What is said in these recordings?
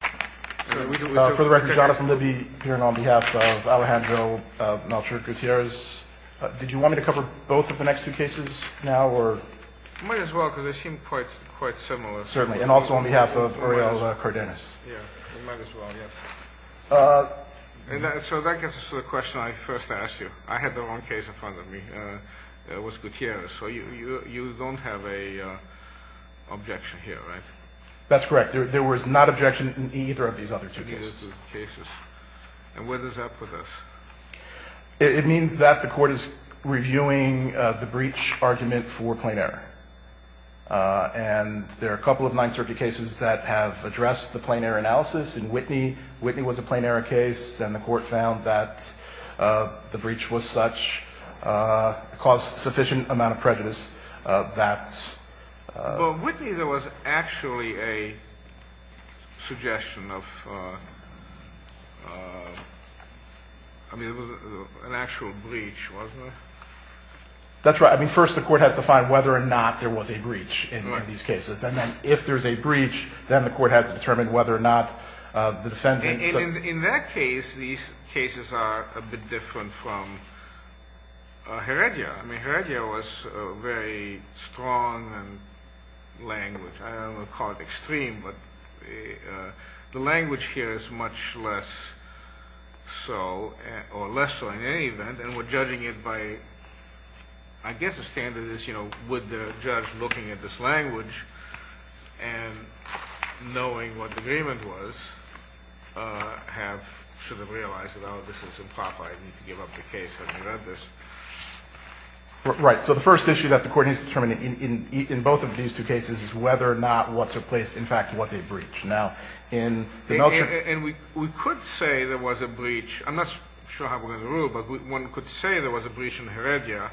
For the record, Jonathan Libby here, and on behalf of Alejandro Melchor Gutierrez. Did you want me to cover both of the next two cases now? Might as well, because they seem quite similar. Certainly, and also on behalf of Oriol Cardenas. Yeah, we might as well, yes. So that gets us to the question I first asked you. I had the wrong case in front of me. It was Gutierrez, so you don't have an objection here, right? That's correct. There was not objection in either of these other two cases. And what does that put us? It means that the Court is reviewing the breach argument for plain error. And there are a couple of 930 cases that have addressed the plain error analysis. In Whitney, Whitney was a plain error case, and the Court found that the breach was such, caused a sufficient amount of prejudice that... Well, in Whitney there was actually a suggestion of, I mean, it was an actual breach, wasn't it? That's right. I mean, first the Court has to find whether or not there was a breach in these cases. And then if there's a breach, then the Court has to determine whether or not the defendants... In that case, these cases are a bit different from Heredia. I mean, Heredia was a very strong language. I don't want to call it extreme, but the language here is much less so, or less so in any event. And we're judging it by, I guess the standard is, you know, would the judge, looking at this language and knowing what the agreement was, have sort of realized, oh, this is improper, I need to give up the case having read this? Right. So the first issue that the Court needs to determine in both of these two cases is whether or not what took place, in fact, was a breach. Now, in the Melchor... And we could say there was a breach. I'm not sure how we're going to rule, but one could say there was a breach in Heredia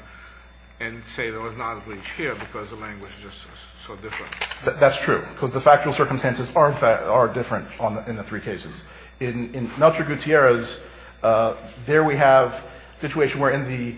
and say there was not a breach here because the language is just so different. That's true. Because the factual circumstances are different in the three cases. In Melchor Gutierrez, there we have a situation where in the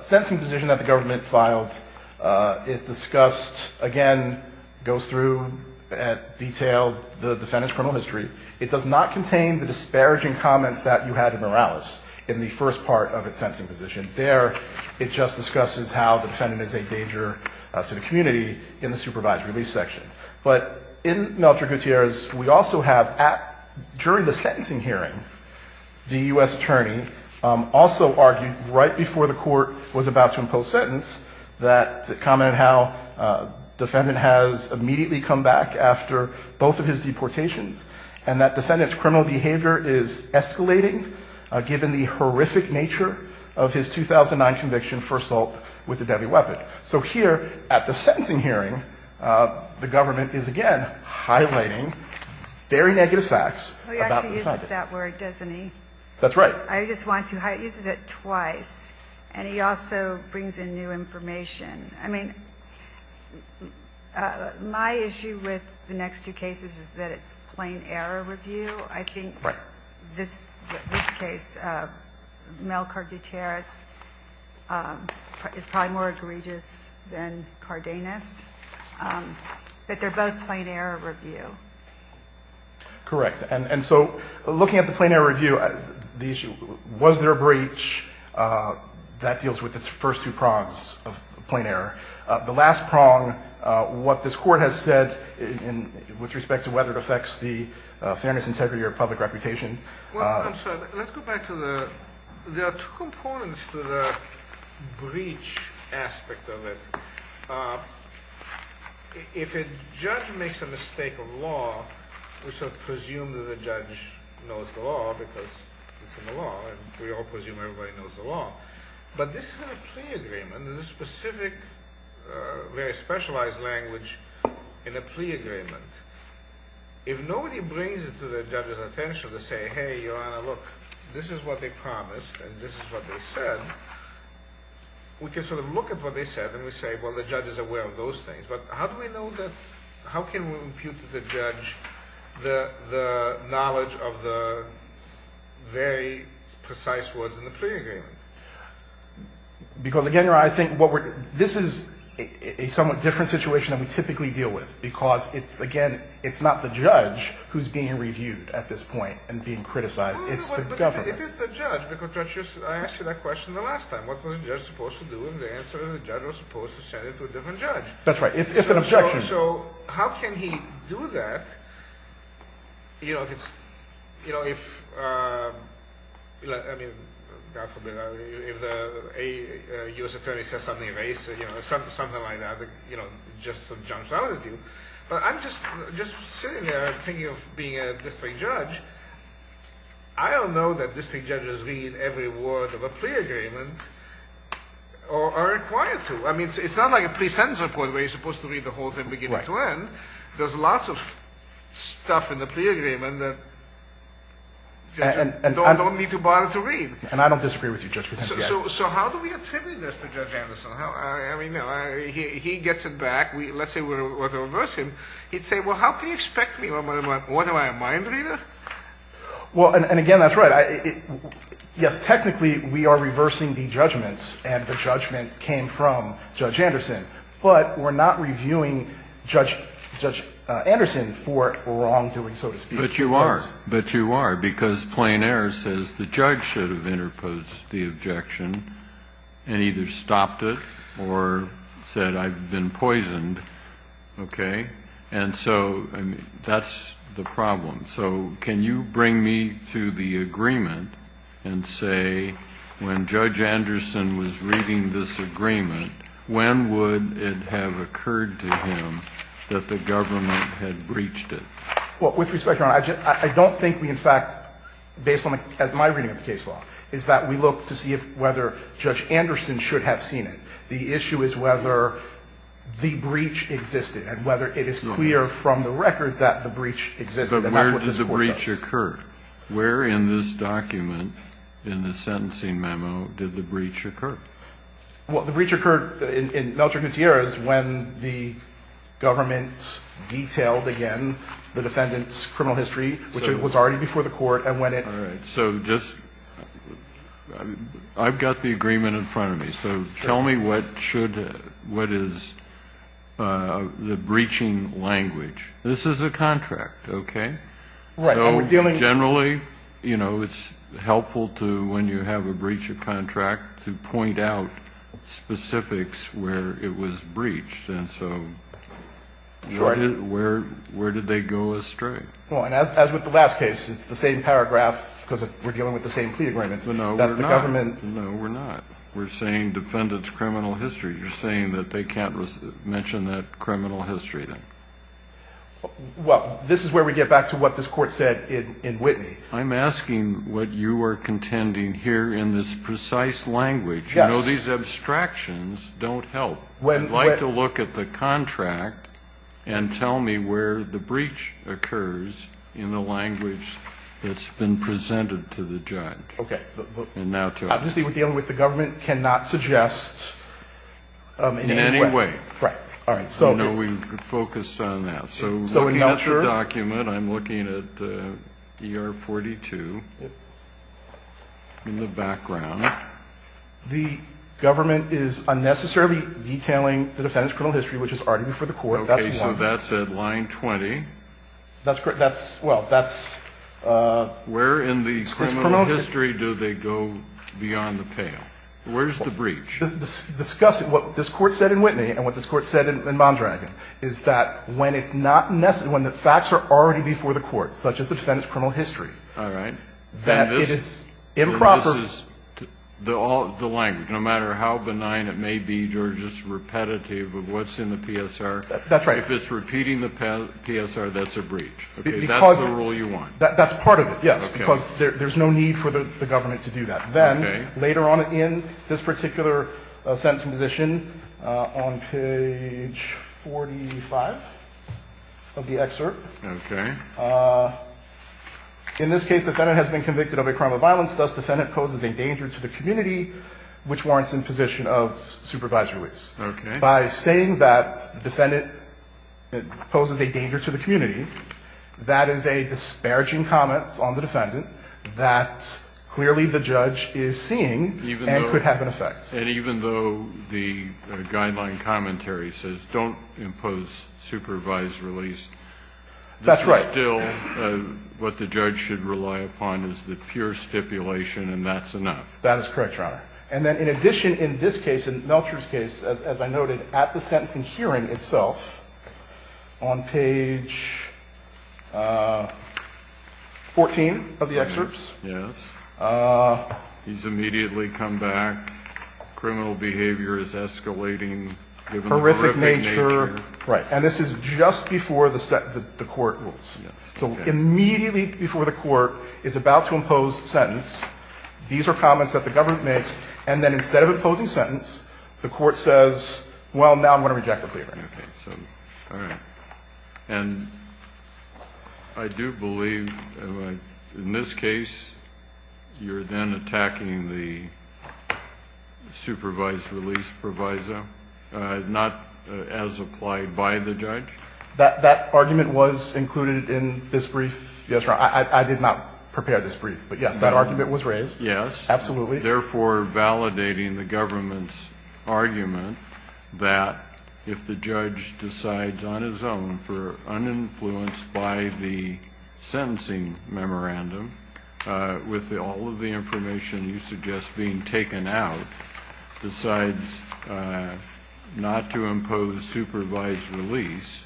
sensing position that the government filed, it discussed, again, goes through and detailed the defendant's criminal history. It does not contain the disparaging comments that you had in Morales in the first part of its sensing position. There, it just discusses how the defendant is a danger to the community in the supervised release section. But in Melchor Gutierrez, we also have, during the sentencing hearing, the U.S. attorney also argued right before the Court was about to impose sentence that commented how defendant has immediately come back after both of his deportations and that defendant's criminal behavior is escalating, given the horrific nature of his 2009 conviction for assault with a deadly weapon. So here, at the sentencing hearing, the government is, again, highlighting very negative facts about the defendant. Well, he actually uses that word, doesn't he? That's right. I just want to highlight. He uses it twice. And he also brings in new information. I mean, my issue with the next two cases is that it's plain error review. Right. But this case, Melchor Gutierrez, is probably more egregious than Cardenas. But they're both plain error review. Correct. And so looking at the plain error review, the issue, was there a breach? That deals with its first two prongs of plain error. The last prong, what this Court has said with respect to whether it affects the fairness, integrity, or public reputation. Well, I'm sorry. Let's go back to the ‑‑ there are two components to the breach aspect of it. If a judge makes a mistake of law, we sort of presume that the judge knows the law because it's in the law, and we all presume everybody knows the law. But this is in a plea agreement. There's a specific, very specialized language in a plea agreement. If nobody brings it to the judge's attention to say, hey, Your Honor, look, this is what they promised and this is what they said, we can sort of look at what they said and we say, well, the judge is aware of those things. But how do we know that ‑‑ how can we impute to the judge the knowledge of the very precise words in the plea agreement? Because, again, Your Honor, I think what we're ‑‑ this is a somewhat different situation than we typically deal with because it's, again, it's not the judge who's being reviewed at this point and being criticized. It's the government. But if it's the judge, because I asked you that question the last time. What was the judge supposed to do if the answer is the judge was supposed to send it to a different judge? That's right. If an objection. So how can he do that, you know, if it's ‑‑ you know, if, I mean, God forbid, if a U.S. attorney says something erased, you know, something like that, you know, just jumps out at you. But I'm just sitting here thinking of being a district judge. I don't know that district judges read every word of a plea agreement or are required to. I mean, it's not like a plea sentence report where you're supposed to read the whole thing beginning to end. There's lots of stuff in the plea agreement that judges don't need to bother to read. And I don't disagree with you, Judge Picencio. So how do we attribute this to Judge Anderson? I mean, he gets it back. Let's say we were to reverse him. He'd say, well, how can you expect me? What am I, a mind reader? Well, and again, that's right. Yes, technically we are reversing the judgments, and the judgment came from Judge Anderson. But we're not reviewing Judge Anderson for wrongdoing, so to speak. But you are. Because plain error says the judge should have interposed the objection and either stopped it or said I've been poisoned. Okay? And so that's the problem. So can you bring me to the agreement and say when Judge Anderson was reading this agreement, when would it have occurred to him that the government had breached it? Well, with respect, Your Honor, I don't think we in fact, based on my reading of the case law, is that we look to see whether Judge Anderson should have seen it. The issue is whether the breach existed and whether it is clear from the record that the breach existed. And that's what this Court does. But where did the breach occur? Where in this document, in the sentencing memo, did the breach occur? Well, the breach occurred in Melchor Gutierrez when the government detailed again the defendant's criminal history, which was already before the Court, and when it was. All right. So just, I've got the agreement in front of me. So tell me what should, what is the breaching language? This is a contract, okay? Right. So generally, you know, it's helpful to, when you have a breach of contract, to point out specifics where it was breached. And so where did they go astray? Well, and as with the last case, it's the same paragraph because we're dealing with the same plea agreements. No, we're not. No, we're not. We're saying defendant's criminal history. You're saying that they can't mention that criminal history then? Well, this is where we get back to what this Court said in Whitney. I'm asking what you are contending here in this precise language. Yes. You know, these abstractions don't help. I'd like to look at the contract and tell me where the breach occurs in the language that's been presented to the judge. Okay. And now tell me. Obviously, we're dealing with the government, cannot suggest in any way. In any way. Right. All right. I know we focused on that. So looking at the document, I'm looking at ER 42 in the background. The government is unnecessarily detailing the defendant's criminal history, which is already before the Court. Okay, so that's at line 20. That's correct. Well, that's this promotion. Where in the criminal history do they go beyond the pale? Where's the breach? Discussing what this Court said in Whitney and what this Court said in Mondragon is that when it's not necessary, when the facts are already before the Court, such as the defendant's criminal history. All right. That it is improper. This is the language. No matter how benign it may be, George, it's repetitive of what's in the PSR. That's right. If it's repeating the PSR, that's a breach. That's the rule you want. That's part of it, yes, because there's no need for the government to do that. Okay. Later on in this particular sentencing position, on page 45 of the excerpt. Okay. In this case, defendant has been convicted of a crime of violence. Thus, defendant poses a danger to the community, which warrants imposition of supervised release. Okay. By saying that defendant poses a danger to the community, that is a disparaging comment on the defendant that clearly the judge is seeing and could have an effect. And even though the guideline commentary says don't impose supervised release. That's right. This is still what the judge should rely upon is the pure stipulation, and that's enough. That is correct, Your Honor. And then in addition, in this case, in Melcher's case, as I noted, at the sentencing hearing itself, on page 14 of the excerpts. Yes. He's immediately come back. Criminal behavior is escalating. Horrific nature. Right. And this is just before the court rules. So immediately before the court is about to impose sentence, these are comments that the government makes, and then instead of imposing sentence, the court says, well, now I'm going to reject the plea agreement. Okay. All right. And I do believe in this case you're then attacking the supervised release proviso, not as applied by the judge? That argument was included in this brief. Yes, Your Honor. I did not prepare this brief. But, yes, that argument was raised. Yes. Absolutely. Therefore, validating the government's argument that if the judge decides on his own for uninfluenced by the sentencing memorandum, with all of the information you suggest being taken out, decides not to impose supervised release,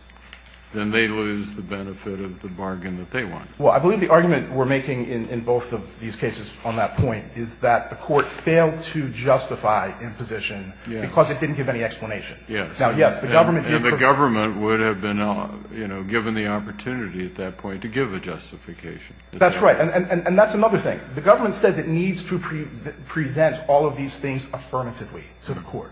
then they lose the benefit of the bargain that they won. Well, I believe the argument we're making in both of these cases on that point is that the court failed to justify imposition because it didn't give any explanation. Yes. Now, yes, the government did. And the government would have been, you know, given the opportunity at that point to give a justification. That's right. And that's another thing. The government says it needs to present all of these things affirmatively to the court.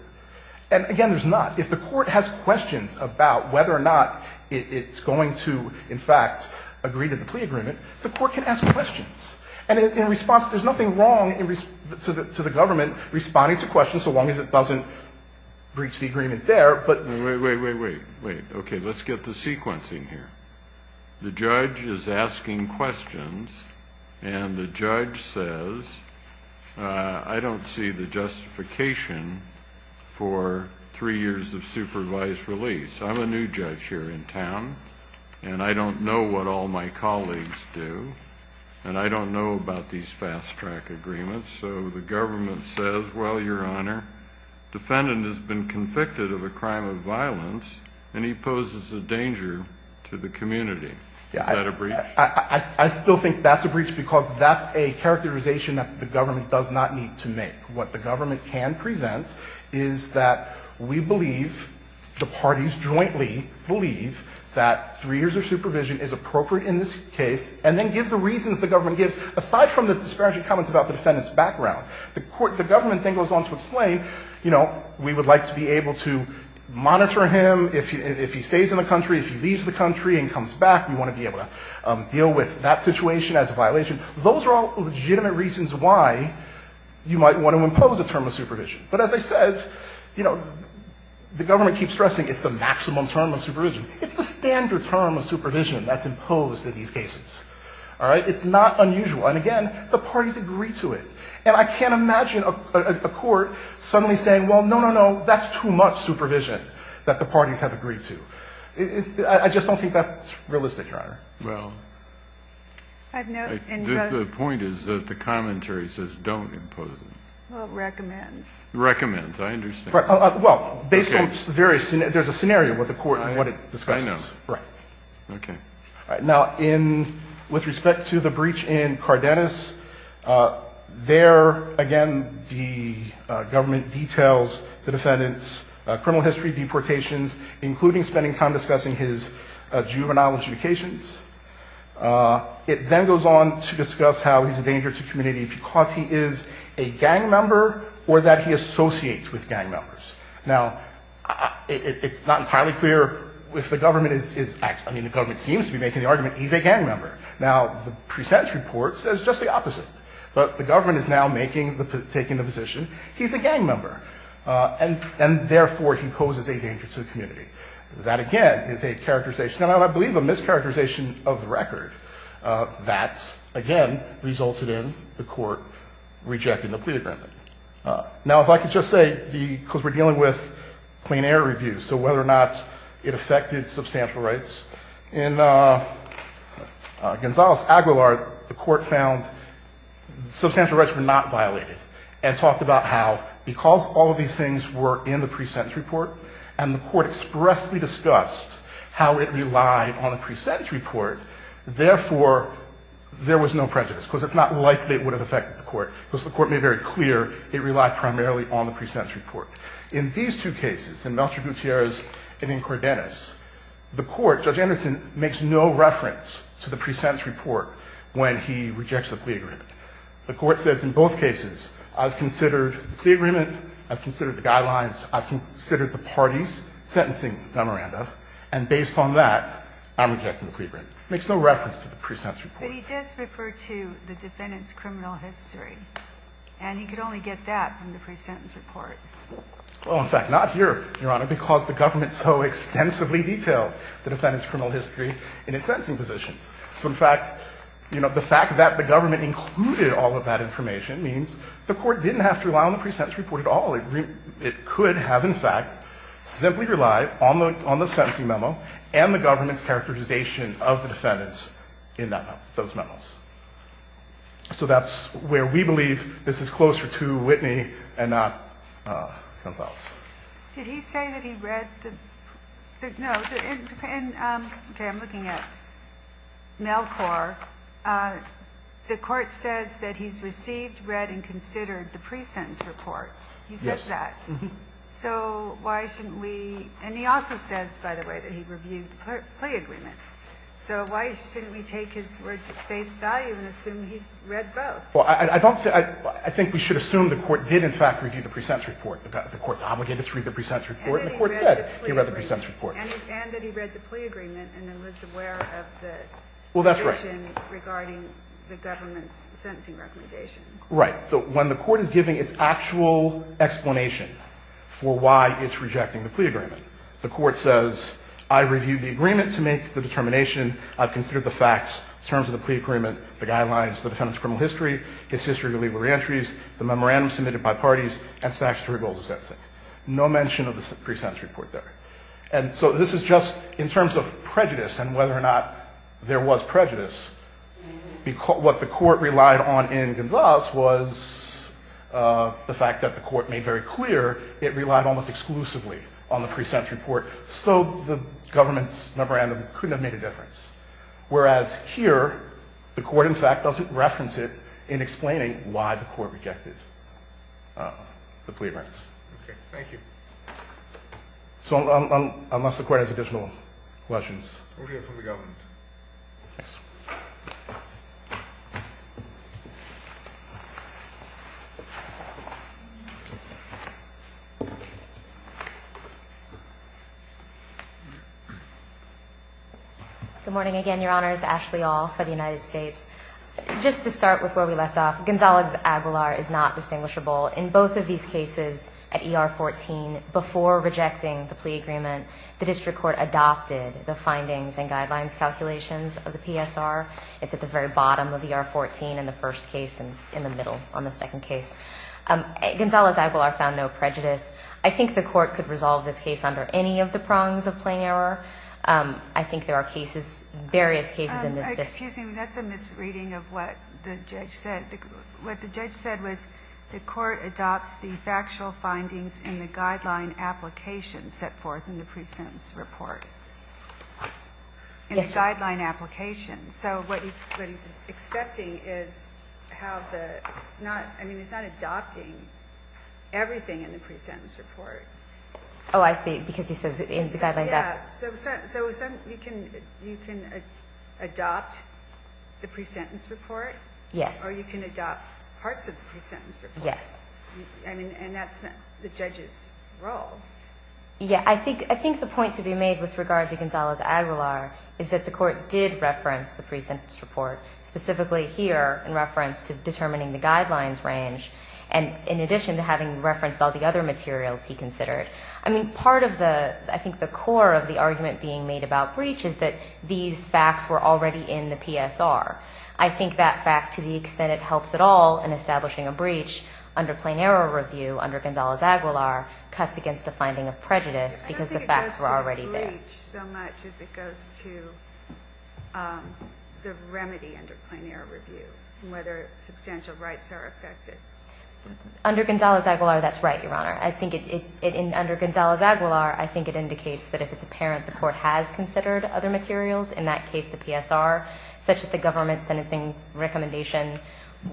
And, again, there's not. If the court has questions about whether or not it's going to, in fact, agree to the agreement, the court can ask questions. And in response, there's nothing wrong to the government responding to questions so long as it doesn't breach the agreement there, but. Wait, wait, wait, wait, wait. Okay. Let's get the sequencing here. The judge is asking questions, and the judge says, I don't see the justification I'm a new judge here in town. And I don't know what all my colleagues do. And I don't know about these fast-track agreements. So the government says, well, Your Honor, defendant has been convicted of a crime of violence, and he poses a danger to the community. Is that a breach? I still think that's a breach because that's a characterization that the government does not need to make. What the government can present is that we believe, the parties jointly believe, that three years of supervision is appropriate in this case, and then give the reasons the government gives, aside from the disparaging comments about the defendant's background. The government then goes on to explain, you know, we would like to be able to monitor him. If he stays in the country, if he leaves the country and comes back, we want to be able to deal with that situation as a violation. Those are all legitimate reasons why you might want to impose a term of supervision. But as I said, you know, the government keeps stressing it's the maximum term of supervision. It's the standard term of supervision that's imposed in these cases. All right? It's not unusual. And again, the parties agree to it. And I can't imagine a court suddenly saying, well, no, no, no, that's too much supervision that the parties have agreed to. I just don't think that's realistic, Your Honor. The point is that the commentary says don't impose it. Well, it recommends. Recommends. I understand. Well, based on various scenarios, there's a scenario with the court and what it discusses. I know. Right. Okay. All right. Now, with respect to the breach in Cardenas, there, again, the government details the defendant's criminal history, deportations, including spending time discussing his juvenile justifications. It then goes on to discuss how he's a danger to community because he is a gang member or that he associates with gang members. Now, it's not entirely clear if the government is actually – I mean, the government seems to be making the argument he's a gang member. Now, the present report says just the opposite. But the government is now making the – taking the position he's a gang member, and therefore he poses a danger to the community. That, again, is a characterization, and I believe a mischaracterization of the record that, again, resulted in the court rejecting the plea agreement. Now, if I could just say the – because we're dealing with clean air reviews, so whether or not it affected substantial rights. In Gonzales-Aguilar, the court found substantial rights were not violated and talked about how, because all of these things were in the pre-sentence report and the court expressly discussed how it relied on the pre-sentence report, therefore, there was no prejudice, because it's not likely it would have affected the court, because the court made very clear it relied primarily on the pre-sentence report. In these two cases, in Melchor Gutierrez and in Cordenas, the court, Judge Anderson makes no reference to the pre-sentence report when he rejects the plea agreement. The court says in both cases, I've considered the plea agreement, I've considered the guidelines, I've considered the parties sentencing the Miranda, and based on that, I'm rejecting the plea agreement. It makes no reference to the pre-sentence report. But he does refer to the defendant's criminal history, and he could only get that from the pre-sentence report. Well, in fact, not here, Your Honor, because the government so extensively detailed the defendant's criminal history in its sentencing positions. So, in fact, you know, the fact that the government included all of that information means the court didn't have to rely on the pre-sentence report at all. It could have, in fact, simply relied on the sentencing memo and the government's characterization of the defendants in that memo, those memos. So that's where we believe this is closer to Whitney and not Consuelos. Ginsburg. Did he say that he read the no, in, okay, I'm looking at Melcor, the court says that he's received, read, and considered the pre-sentence report. He says that. So why shouldn't we, and he also says, by the way, that he reviewed the plea agreement. So why shouldn't we take his words at face value and assume he's read both? Well, I don't think, I think we should assume the court did, in fact, review the pre-sentence report. The court's obligated to read the pre-sentence report, and the court said he read the pre-sentence report. And that he read the plea agreement and then was aware of the decision regarding the government's sentencing recommendation. Right. So when the court is giving its actual explanation for why it's rejecting the plea agreement, the court says, I reviewed the agreement to make the determination. I've considered the facts in terms of the plea agreement, the guidelines, the defendant's criminal history, his history of illegal reentries, the memorandum submitted by parties, and statutory goals of sentencing. No mention of the pre-sentence report there. And so this is just in terms of prejudice and whether or not there was prejudice. What the court relied on in Gonzales was the fact that the court made very clear it relied almost exclusively on the pre-sentence report, so the government's memorandum couldn't have made a difference. Whereas here, the court, in fact, doesn't reference it in explaining why the court rejected. The plea rights. Okay, thank you. So unless the court has additional questions. We'll hear from the government. Thanks. Good morning again, Your Honors. Ashley All for the United States. Just to start with where we left off, Gonzales-Aguilar is not distinguishable. In both of these cases, at ER 14, before rejecting the plea agreement, the district court adopted the findings and guidelines calculations of the PSR. It's at the very bottom of ER 14 in the first case and in the middle on the second case. Gonzales-Aguilar found no prejudice. I think the court could resolve this case under any of the prongs of plain error. I think there are cases, various cases in this district. Excuse me, that's a misreading of what the judge said. What the judge said was the court adopts the factual findings in the guideline application set forth in the pre-sentence report. Yes, Your Honor. In the guideline application. So what he's accepting is how the, not, I mean, he's not adopting everything in the pre-sentence report. Oh, I see, because he says in the guideline. Yeah, so you can adopt the pre-sentence report. Yes. Or you can adopt parts of the pre-sentence report. Yes. And that's the judge's role. Yeah, I think the point to be made with regard to Gonzales-Aguilar is that the court did reference the pre-sentence report, specifically here in reference to determining the guidelines range, and in addition to having referenced all the other materials he considered. I mean, part of the, I think the core of the argument being made about breach is that these facts were already in the PSR. I think that fact, to the extent it helps at all in establishing a breach, under plain error review, under Gonzales-Aguilar, cuts against the finding of prejudice because the facts were already there. I don't think it goes to the breach so much as it goes to the remedy under plain error review, whether substantial rights are affected. Under Gonzales-Aguilar, that's right, Your Honor. Under Gonzales-Aguilar, I think it indicates that if it's apparent the court has considered other materials, in that case the PSR, such that the government sentencing recommendation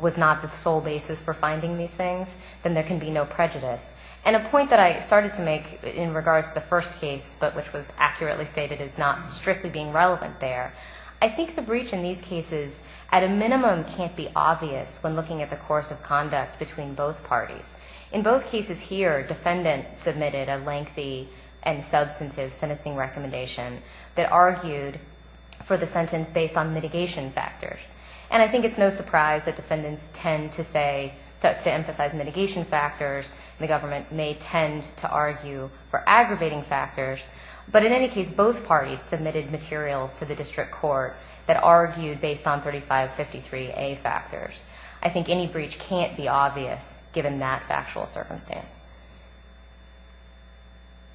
was not the sole basis for finding these things, then there can be no prejudice. And a point that I started to make in regards to the first case, but which was accurately stated as not strictly being relevant there, I think the breach in these cases, at a minimum, can't be obvious when looking at the course of conduct between both parties. In both cases here, defendants submitted a lengthy and substantive sentencing recommendation that argued for the sentence based on mitigation factors. And I think it's no surprise that defendants tend to say, to emphasize mitigation factors, and the government may tend to argue for aggravating factors. But in any case, both parties submitted materials to the district court that argued based on 3553A factors. I think any breach can't be obvious, given that factual circumstance.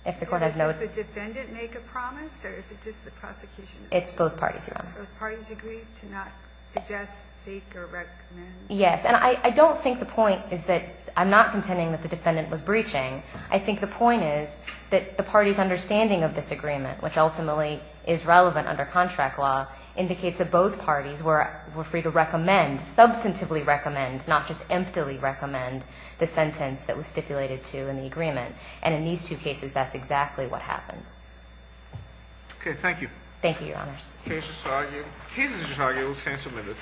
If the court has no... Does the defendant make a promise, or is it just the prosecution? It's both parties, Your Honor. Both parties agree to not suggest, seek, or recommend? Yes. And I don't think the point is that I'm not contending that the defendant was breaching. I think the point is that the party's understanding of this agreement, which ultimately is relevant under contract law, indicates that both parties were substantively recommend, not just emptily recommend, the sentence that was stipulated to in the agreement. And in these two cases, that's exactly what happens. Okay. Thank you. Thank you, Your Honors. Cases just argued will stand submitted.